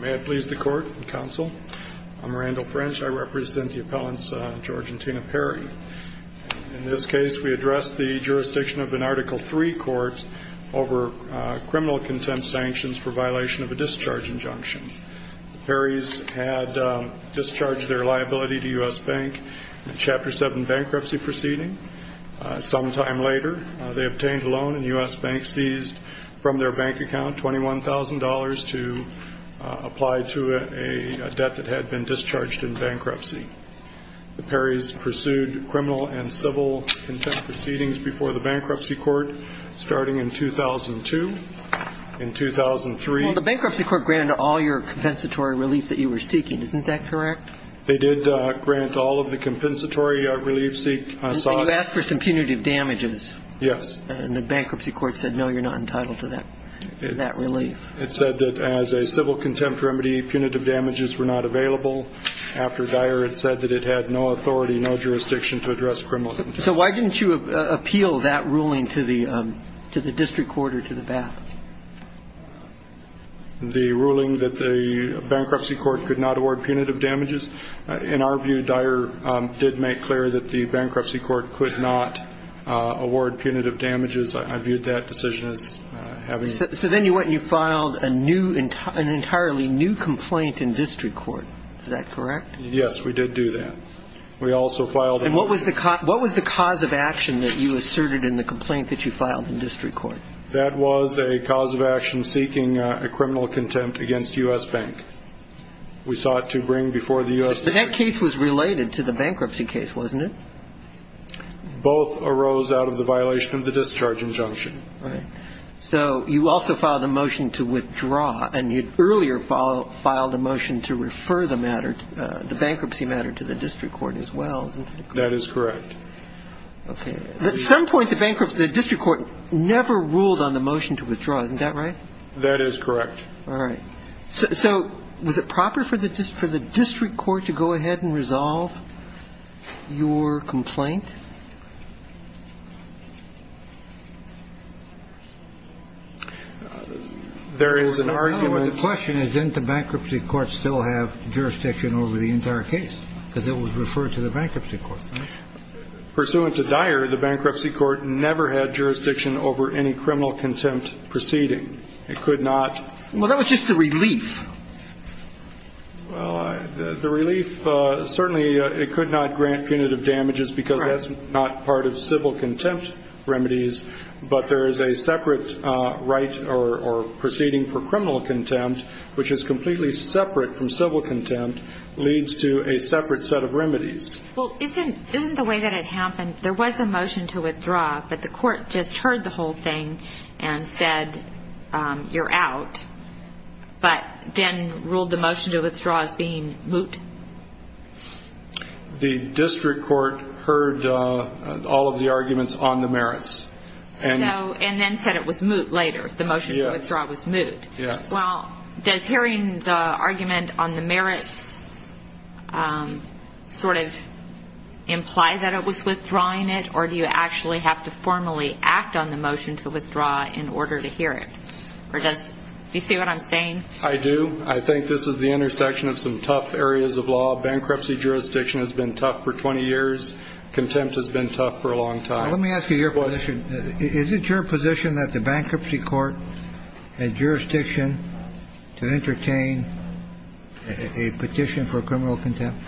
May I please the court and counsel? I'm Randall French. I represent the appellants George and Tina Perry. In this case, we address the jurisdiction of an Article 3 court over criminal contempt sanctions for violation of a discharge injunction. The Perrys had discharged their liability to US Bank in a Chapter 7 bankruptcy proceeding. Sometime later, they obtained a loan in US Bank seized from their bank account, $21,000 to apply to a debt that had been discharged in bankruptcy. The Perrys pursued criminal and civil contempt proceedings before the bankruptcy court starting in 2002. In 2003... Well, the bankruptcy court granted all your compensatory relief that you were seeking, isn't that correct? They did grant all of the compensatory relief seek. And you asked for some punitive damages. Yes. And the bankruptcy court said no, you're not entitled to that relief. It said that as a civil contempt remedy, punitive damages were not available. After Dyer, it said that it had no authority, no jurisdiction to address criminal contempt. So why didn't you appeal that ruling to the district court or to the bank? The ruling that the bankruptcy court could not award punitive damages. In our view, Dyer did make clear that the bankruptcy court could not award punitive damages. I viewed that decision as having... So then you went and you filed a new, an entirely new complaint in district court. Is that correct? Yes, we did do that. We also filed... And what was the cause of action that you asserted in the complaint that you filed in district court? That was a cause of action seeking a criminal contempt against U.S. Bank. We sought to bring before the U.S. Bank... But that case was related to the bankruptcy case, wasn't it? Both arose out of the violation of the discharge injunction. Right. So you also filed a motion to withdraw, and you'd earlier filed a motion to refer the matter, the bankruptcy matter to the district court as well, isn't that correct? That is correct. Okay. At some point, the district court never ruled on the motion to withdraw, isn't that right? That is correct. All right. So was it proper for the district court to go ahead and resolve your complaint? There is an argument... The question is, didn't the bankruptcy court still have jurisdiction over the entire case? Because it was referred to the bankruptcy court, right? Pursuant to Dyer, the bankruptcy court never had jurisdiction over any criminal contempt proceeding. It could not... Well, that was just the relief. Well, the relief, certainly it could not grant punitive damages because that's not part of civil contempt remedies. But there is a separate right or proceeding for criminal contempt, which is completely separate from civil contempt, leads to a separate set of remedies. Well, isn't the way that it happened, there was a motion to withdraw, but the court just heard the whole thing and said, you're out, but then ruled the motion to withdraw as being moot? The district court heard all of the arguments on the merits. And then said it was moot later, the motion to withdraw was moot. Yes. Well, does hearing the argument on the merits sort of imply that it was withdrawing it, or do you actually have to formally act on the motion to withdraw in order to hear it? Or does... Do you see what I'm saying? I do. I think this is the intersection of some tough areas of law. Bankruptcy jurisdiction has been tough for 20 years. Contempt has been tough for a long time. Let me ask you your position. Is it your position that the bankruptcy court had jurisdiction to entertain a petition for criminal contempt?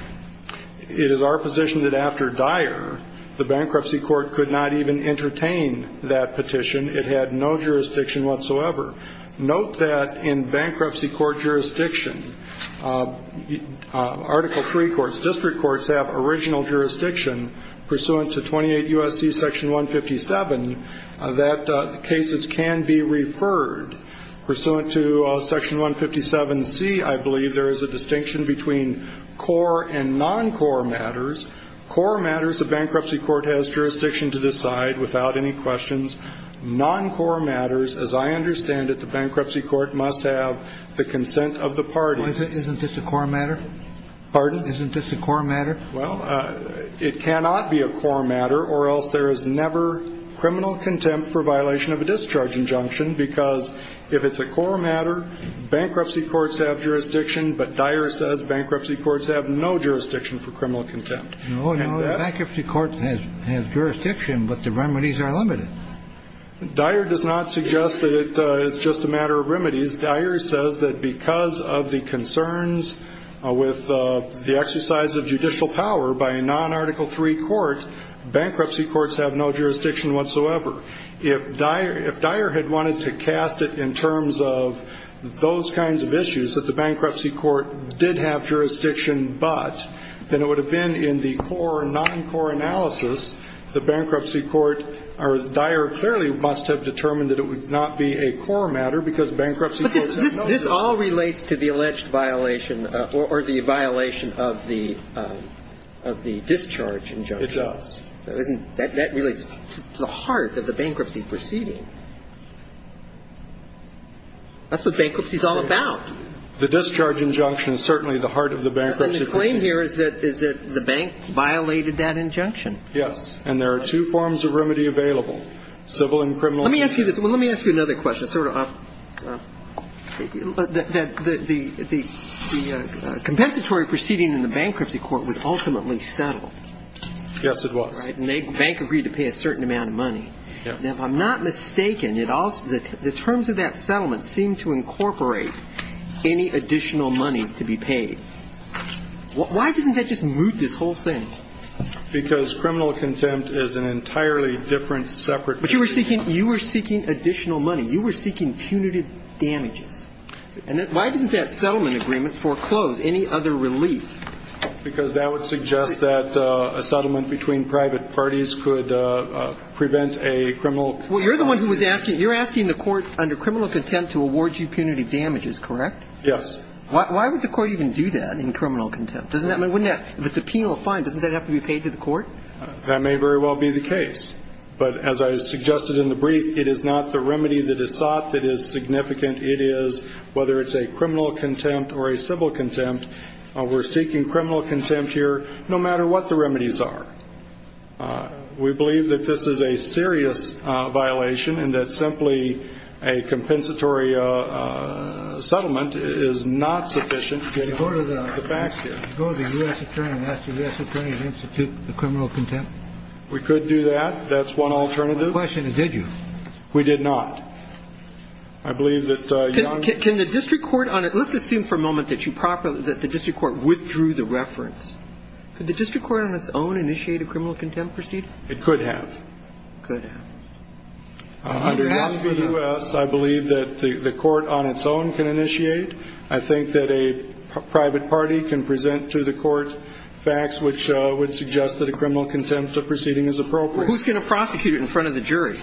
It is our position that the bankruptcy court could not even entertain that petition. It had no jurisdiction whatsoever. Note that in bankruptcy court jurisdiction, Article 3 courts, district courts, have original jurisdiction pursuant to 28 U.S.C. Section 157 that cases can be referred. Pursuant to Section 157C, I believe, there is a distinction between core and non-core matters. Core matters, the bankruptcy court has jurisdiction to decide without any questions. Non-core matters, as I understand it, the bankruptcy court must have the consent of the parties. Isn't this a core matter? Pardon? Isn't this a core matter? Well, it cannot be a core matter, or else there is never criminal contempt for violation of a discharge injunction, because if it's a core matter, bankruptcy courts have jurisdiction, but Dyer says bankruptcy courts have no jurisdiction for criminal contempt. No, bankruptcy courts have jurisdiction, but the remedies are limited. Dyer does not suggest that it's just a matter of remedies. Dyer says that because of the concerns with the exercise of judicial power by a non-Article 3 court, bankruptcy courts have no jurisdiction whatsoever. If Dyer had wanted to cast it in terms of those kinds of issues, that the bankruptcy court did have jurisdiction, but, then it would have been in the core or non-core analysis, the bankruptcy court, or Dyer clearly must have determined that it would not be a core matter, because bankruptcy courts have no jurisdiction. But this all relates to the alleged violation or the violation of the discharge injunction. It does. So isn't that the heart of the bankruptcy proceeding? That's what bankruptcy is all about. The discharge injunction is certainly the heart of the bankruptcy proceeding. And the claim here is that the bank violated that injunction. Yes. And there are two forms of remedy available, civil and criminal. Let me ask you this. Let me ask you another question, sort of, that the compensatory proceeding in the bankruptcy court was ultimately settled. Yes, it was. Right. And the bank agreed to pay a certain amount of money. Yes. Now, if I'm not mistaken, it also the terms of that settlement seem to incorporate any additional money to be paid. Why doesn't that just moot this whole thing? Because criminal contempt is an entirely different separate procedure. But you were seeking additional money. You were seeking punitive damages. And why doesn't that settlement agreement foreclose any other relief? Because that would suggest that a settlement between private parties could prevent a criminal contempt. Well, you're the one who was asking. You're asking the court under criminal contempt to award you punitive damages, correct? Yes. Why would the court even do that in criminal contempt? Doesn't that mean, wouldn't that, if it's a penal fine, doesn't that have to be paid to the court? That may very well be the case. But as I suggested in the brief, it is not the remedy that is sought that is significant. It is, whether it's a criminal contempt or a civil contempt, we're seeking criminal contempt here no matter what the remedies are. We believe that this is a serious violation and that simply a compensatory settlement is not sufficient to get the facts here. Go to the U.S. Attorney and ask the U.S. Attorney to institute the criminal contempt. We could do that. That's one alternative. My question is, did you? We did not. I believe that young Can the district court on it, let's assume for a moment that you properly, that the district court withdrew the reference. Could the district court on its own initiate a criminal contempt proceeding? It could have. It could have. Under Young v. U.S., I believe that the court on its own can initiate. I think that a private party can present to the court facts which would suggest that a criminal contempt proceeding is appropriate. Who's going to prosecute it in front of the jury?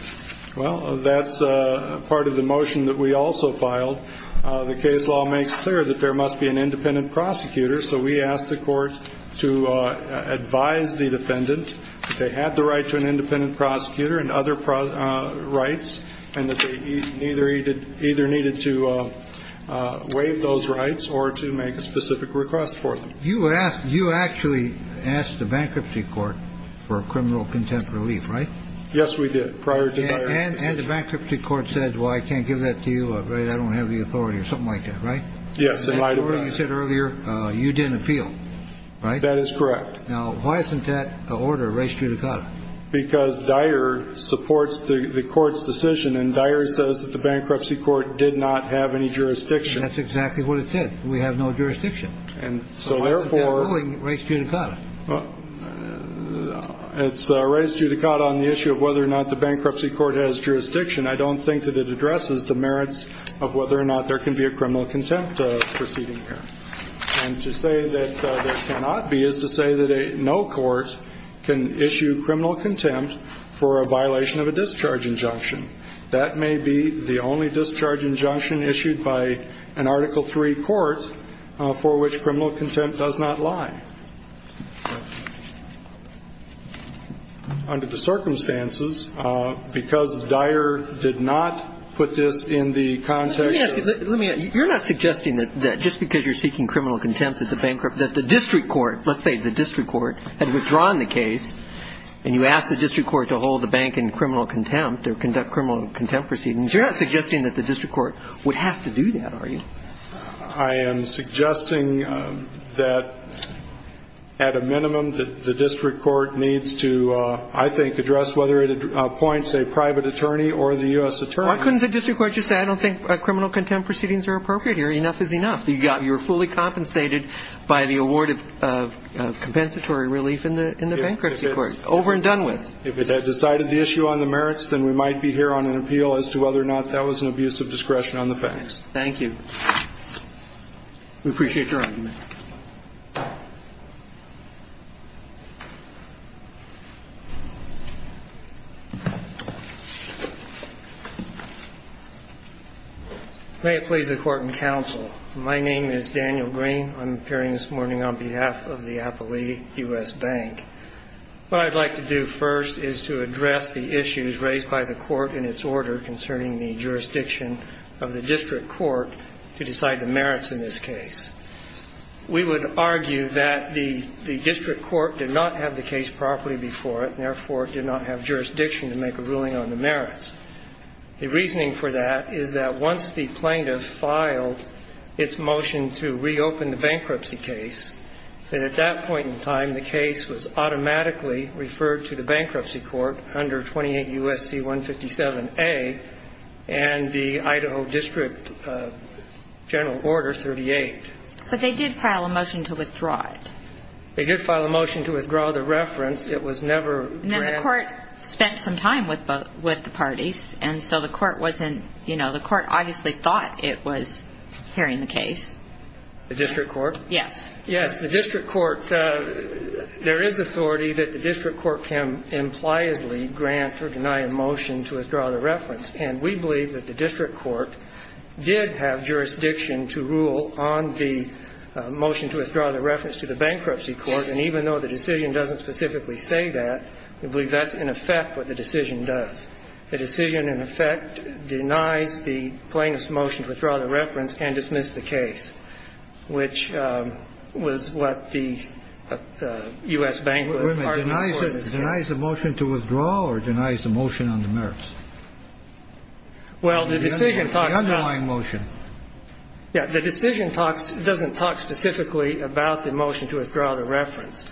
Well, that's part of the motion that we also filed. The case law makes clear that there must be an independent prosecutor. So we asked the court to advise the defendant that they had the right to an independent prosecutor and other rights and that they either needed to waive those rights or to make a specific request for them. You actually asked the bankruptcy court for a criminal contempt relief, right? Yes, we did. And the bankruptcy court said, well, I can't give that to you. I don't have the authority or something like that, right? Yes, it might have. As you said earlier, you didn't appeal, right? That is correct. Now, why isn't that an order, res judicata? Because Dyer supports the court's decision and Dyer says that the bankruptcy court did not have any jurisdiction. That's exactly what it said. We have no jurisdiction. So why isn't that a ruling, res judicata? It's res judicata on the issue of whether or not the bankruptcy court has jurisdiction. I don't think that it addresses the merits of whether or not there can be a criminal contempt proceeding here. And to say that there cannot be is to say that no court can issue criminal contempt for a violation of a discharge injunction. That may be the only discharge injunction issued by an Article III court for which criminal contempt does not lie. Under the circumstances, because Dyer did not put this in the context of the bankruptcy court. Let me ask you, you're not suggesting that just because you're seeking criminal contempt that the district court, let's say the district court had withdrawn the case and you asked the district court to hold the bank in criminal contempt or conduct criminal contempt proceedings. You're not suggesting that the district court would have to do that, are you? I am suggesting that at a minimum the district court needs to, I think, address whether it appoints a private attorney or the U.S. attorney. Why couldn't the district court just say I don't think criminal contempt proceedings are appropriate here? Enough is enough. You're fully compensated by the award of compensatory relief in the bankruptcy court. Over and done with. If it had decided the issue on the merits, then we might be here on an appeal as to whether or not that was an abuse of discretion on the facts. Thank you. We appreciate your argument. May it please the Court and counsel, my name is Daniel Green. I'm appearing this morning on behalf of the Appley U.S. Bank. What I'd like to do first is to address the issues raised by the court in its order concerning the jurisdiction of the district court to decide the merits in this case. We would argue that the district court did not have the case properly before it and, therefore, did not have jurisdiction to make a ruling on the merits. The reasoning for that is that once the plaintiff filed its motion to reopen the bankruptcy case, that at that point in time the case was automatically referred to the bankruptcy court under 28 U.S.C. 157a and the Idaho district general order 38. But they did file a motion to withdraw it. They did file a motion to withdraw the reference. It was never granted. Now, the court spent some time with the parties, and so the court wasn't, you know, the court obviously thought it was hearing the case. The district court? Yes. Yes, the district court, there is authority that the district court can impliedly grant or deny a motion to withdraw the reference. And we believe that the district court did have jurisdiction to rule on the motion to withdraw the reference to the bankruptcy court. And even though the decision doesn't specifically say that, we believe that's, in effect, what the decision does. The decision, in effect, denies the plaintiff's motion to withdraw the reference and dismiss the case, which was what the U.S. Bank was part of before this case. Wait a minute. Denies the motion to withdraw or denies the motion on the merits? Well, the decision talks about the motion. The underlying motion. Yes. The decision talks, doesn't talk specifically about the motion to withdraw the reference.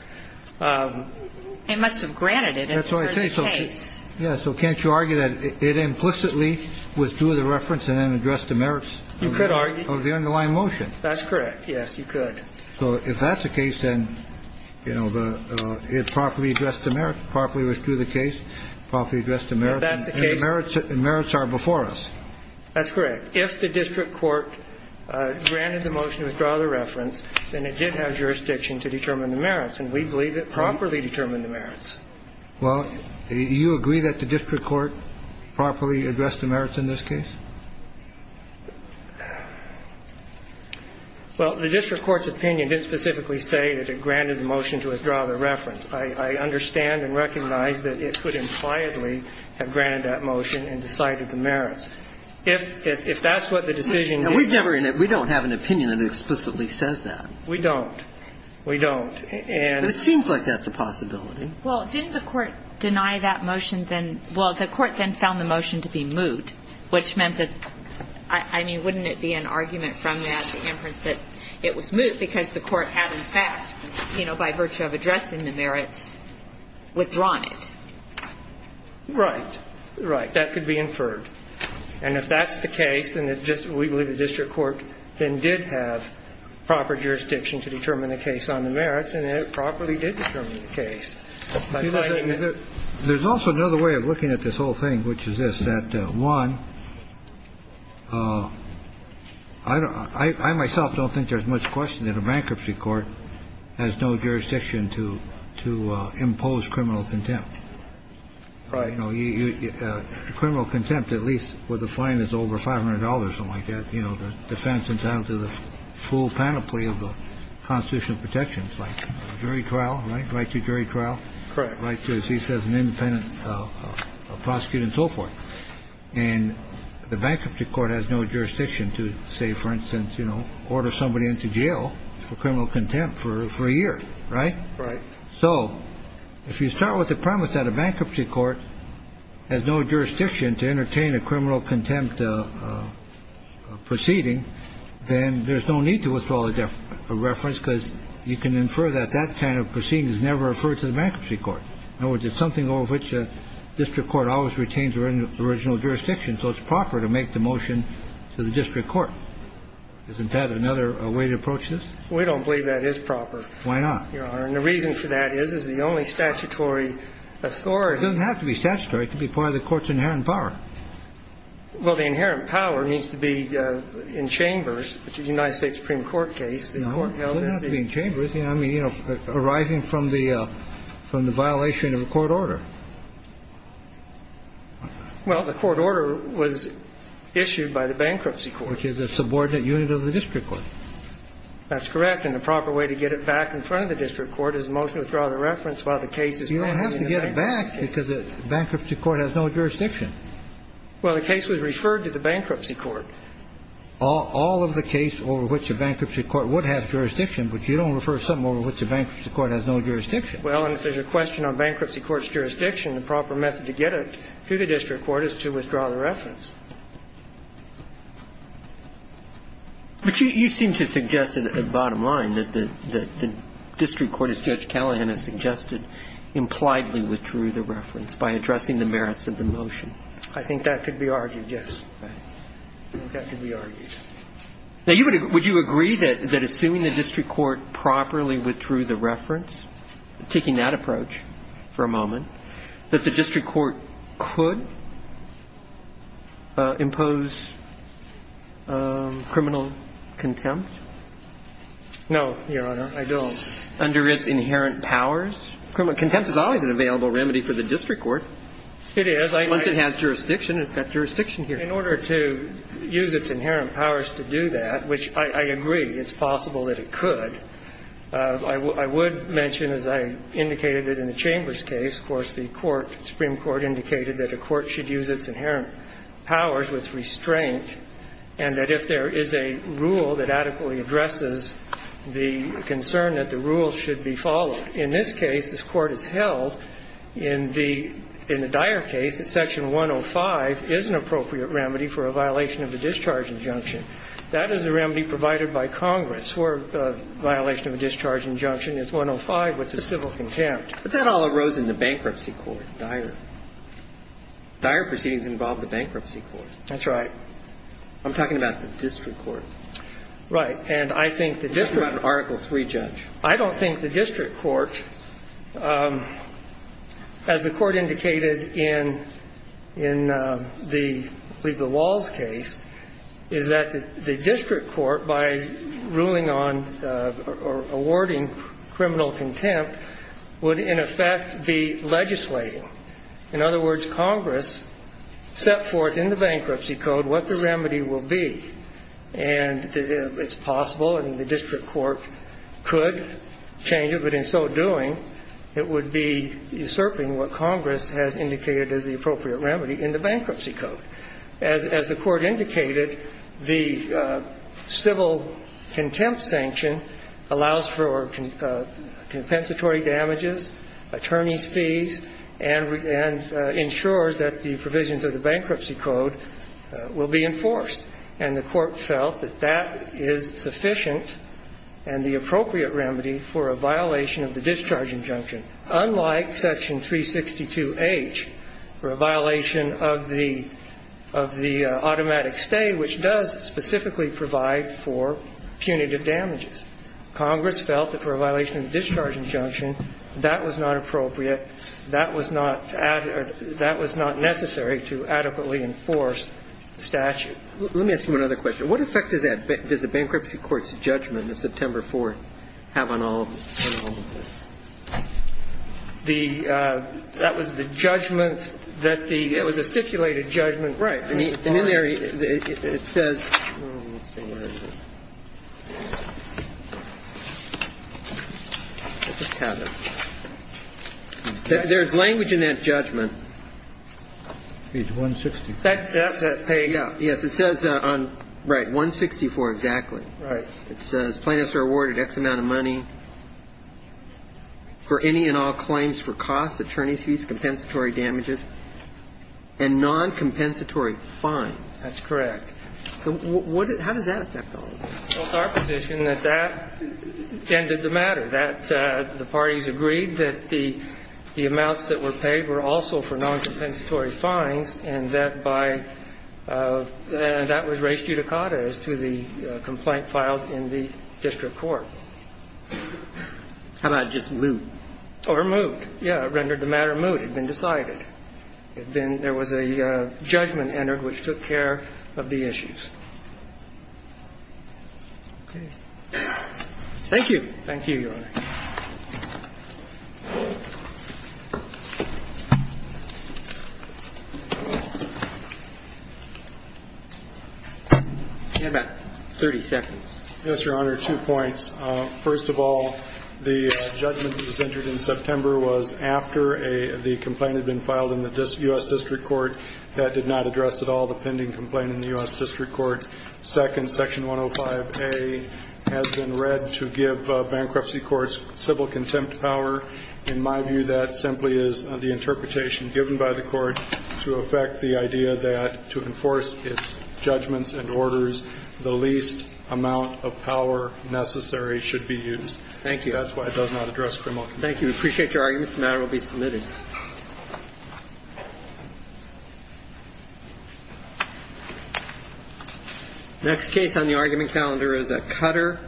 It must have granted it. That's what I think. For the case. So can't you argue that it implicitly withdrew the reference and then addressed the merits? You could argue. Of the underlying motion. That's correct. Yes, you could. So if that's the case, then, you know, it properly addressed the merits, properly withdrew the case, properly addressed the merits. If that's the case. And the merits are before us. That's correct. If the district court granted the motion to withdraw the reference, then it did have jurisdiction to determine the merits. And we believe it properly determined the merits. Well, you agree that the district court properly addressed the merits in this case? Well, the district court's opinion didn't specifically say that it granted the motion to withdraw the reference. I understand and recognize that it could impliedly have granted that motion and decided the merits. If that's what the decision did. We don't have an opinion that explicitly says that. We don't. We don't. And it seems like that's a possibility. Well, didn't the court deny that motion then? Well, the court then found the motion to be moot, which meant that, I mean, wouldn't it be an argument from that inference that it was moot because the court had in fact, you know, by virtue of addressing the merits, withdrawn it? Right. Right. That could be inferred. And if that's the case, then it just we believe the district court then did have proper jurisdiction to determine the case on the merits, and it properly did determine the case. There's also another way of looking at this whole thing, which is this, that, one, I myself don't think there's much question that a bankruptcy court has no jurisdiction to impose criminal contempt. Right. Criminal contempt at least with a fine that's over $500 or something like that, you know, the defense entitled to the full penalty of the constitutional protections like jury trial. Right? Right to jury trial. Correct. Right to, as he says, an independent prosecutor and so forth. And the bankruptcy court has no jurisdiction to say, for instance, you know, order somebody into jail for criminal contempt for a year. Right? Right. So if you start with the premise that a bankruptcy court has no jurisdiction to entertain a criminal contempt proceeding, then there's no need to withdraw the reference because you can infer that that kind of proceeding is never referred to the bankruptcy court. In other words, it's something over which a district court always retains original jurisdiction, so it's proper to make the motion to the district court. Isn't that another way to approach this? We don't believe that is proper. Why not? Your Honor, and the reason for that is, is the only statutory authority. It doesn't have to be statutory. It can be part of the court's inherent power. Well, the inherent power needs to be in chambers. In the United States Supreme Court case, the court held that the ---- No, it doesn't have to be in chambers. I mean, you know, arising from the violation of a court order. Well, the court order was issued by the bankruptcy court. Which is a subordinate unit of the district court. That's correct. And the proper way to get it back in front of the district court is to motion to withdraw the reference while the case is currently in bankruptcy. You don't have to get it back because the bankruptcy court has no jurisdiction. Well, the case was referred to the bankruptcy court. All of the case over which a bankruptcy court would have jurisdiction, but you don't refer to something over which a bankruptcy court has no jurisdiction. Well, and if there's a question on bankruptcy court's jurisdiction, the proper method to get it to the district court is to withdraw the reference. But you seem to suggest at the bottom line that the district court, as Judge Callahan has suggested, impliedly withdrew the reference by addressing the merits of the motion. I think that could be argued, yes. That could be argued. Now, would you agree that assuming the district court properly withdrew the reference, taking that approach for a moment, that the district court could impose criminal contempt? No, Your Honor, I don't. Under its inherent powers? Contempt is always an available remedy for the district court. It is. Once it has jurisdiction, it's got jurisdiction here. In order to use its inherent powers to do that, which I agree, it's possible that it could, I would mention, as I indicated in the Chambers case, of course, the Court, Supreme Court, indicated that a court should use its inherent powers with restraint and that if there is a rule that adequately addresses the concern that the rule should be followed. In this case, this Court has held in the dire case that Section 105 is an appropriate remedy for a violation of the discharge injunction. That is a remedy provided by Congress where a violation of a discharge injunction is 105, which is civil contempt. But that all arose in the bankruptcy court, dire. Dire proceedings involve the bankruptcy court. That's right. I'm talking about the district court. Right. And I think the district court. You're talking about an Article III judge. I don't think the district court, as the Court indicated in the, I believe, the Walls case, is that the district court, by ruling on or awarding criminal contempt, would in effect be legislating. In other words, Congress set forth in the bankruptcy code what the remedy will be. And it's possible and the district court could change it, but in so doing, it would be usurping what Congress has indicated as the appropriate remedy in the bankruptcy code. As the Court indicated, the civil contempt sanction allows for compensatory damages, attorney's fees, and ensures that the provisions of the bankruptcy code will be enforced. And the Court felt that that is sufficient and the appropriate remedy for a violation of the discharge injunction, unlike Section 362H for a violation of the automatic stay, which does specifically provide for punitive damages. Congress felt that for a violation of the discharge injunction, that was not appropriate, that was not necessary to adequately enforce the statute. Let me ask you another question. What effect does the bankruptcy court's judgment on September 4th have on all of this? That was the judgment that the – it was a stipulated judgment. Right. And in there, it says – let's see. I'll just have it. There's language in that judgment. It's 164. That's it. Yes. It says on – right. 164, exactly. Right. It says plaintiffs are awarded X amount of money for any and all claims for costs, attorney's fees, compensatory damages, and noncompensatory fines. That's correct. So what – how does that affect all of this? Well, it's our position that that ended the matter, that the parties agreed that the amounts that were paid were also for noncompensatory fines and that by – and that was res judicata as to the complaint filed in the district court. How about just moot? Or moot. Yes. It rendered the matter moot. It had been decided. It had been – there was a judgment entered which took care of the issues. Okay. Thank you. Thank you, Your Honor. Stand by. 30 seconds. Yes, Your Honor. Two points. First of all, the judgment that was entered in September was after a – the complaint had been filed in the U.S. District Court that did not address at all the pending complaint in the U.S. District Court. Second, Section 105A has been read to give bankruptcy courts civil contempt power. In my view, that simply is the interpretation given by the Court to affect the idea that to enforce its judgments and orders, the least amount of power necessary should be used. Thank you. That's why it does not address criminal complaint. Thank you. We appreciate your arguments. The matter will be submitted. Next case on the argument calendar is a cutter.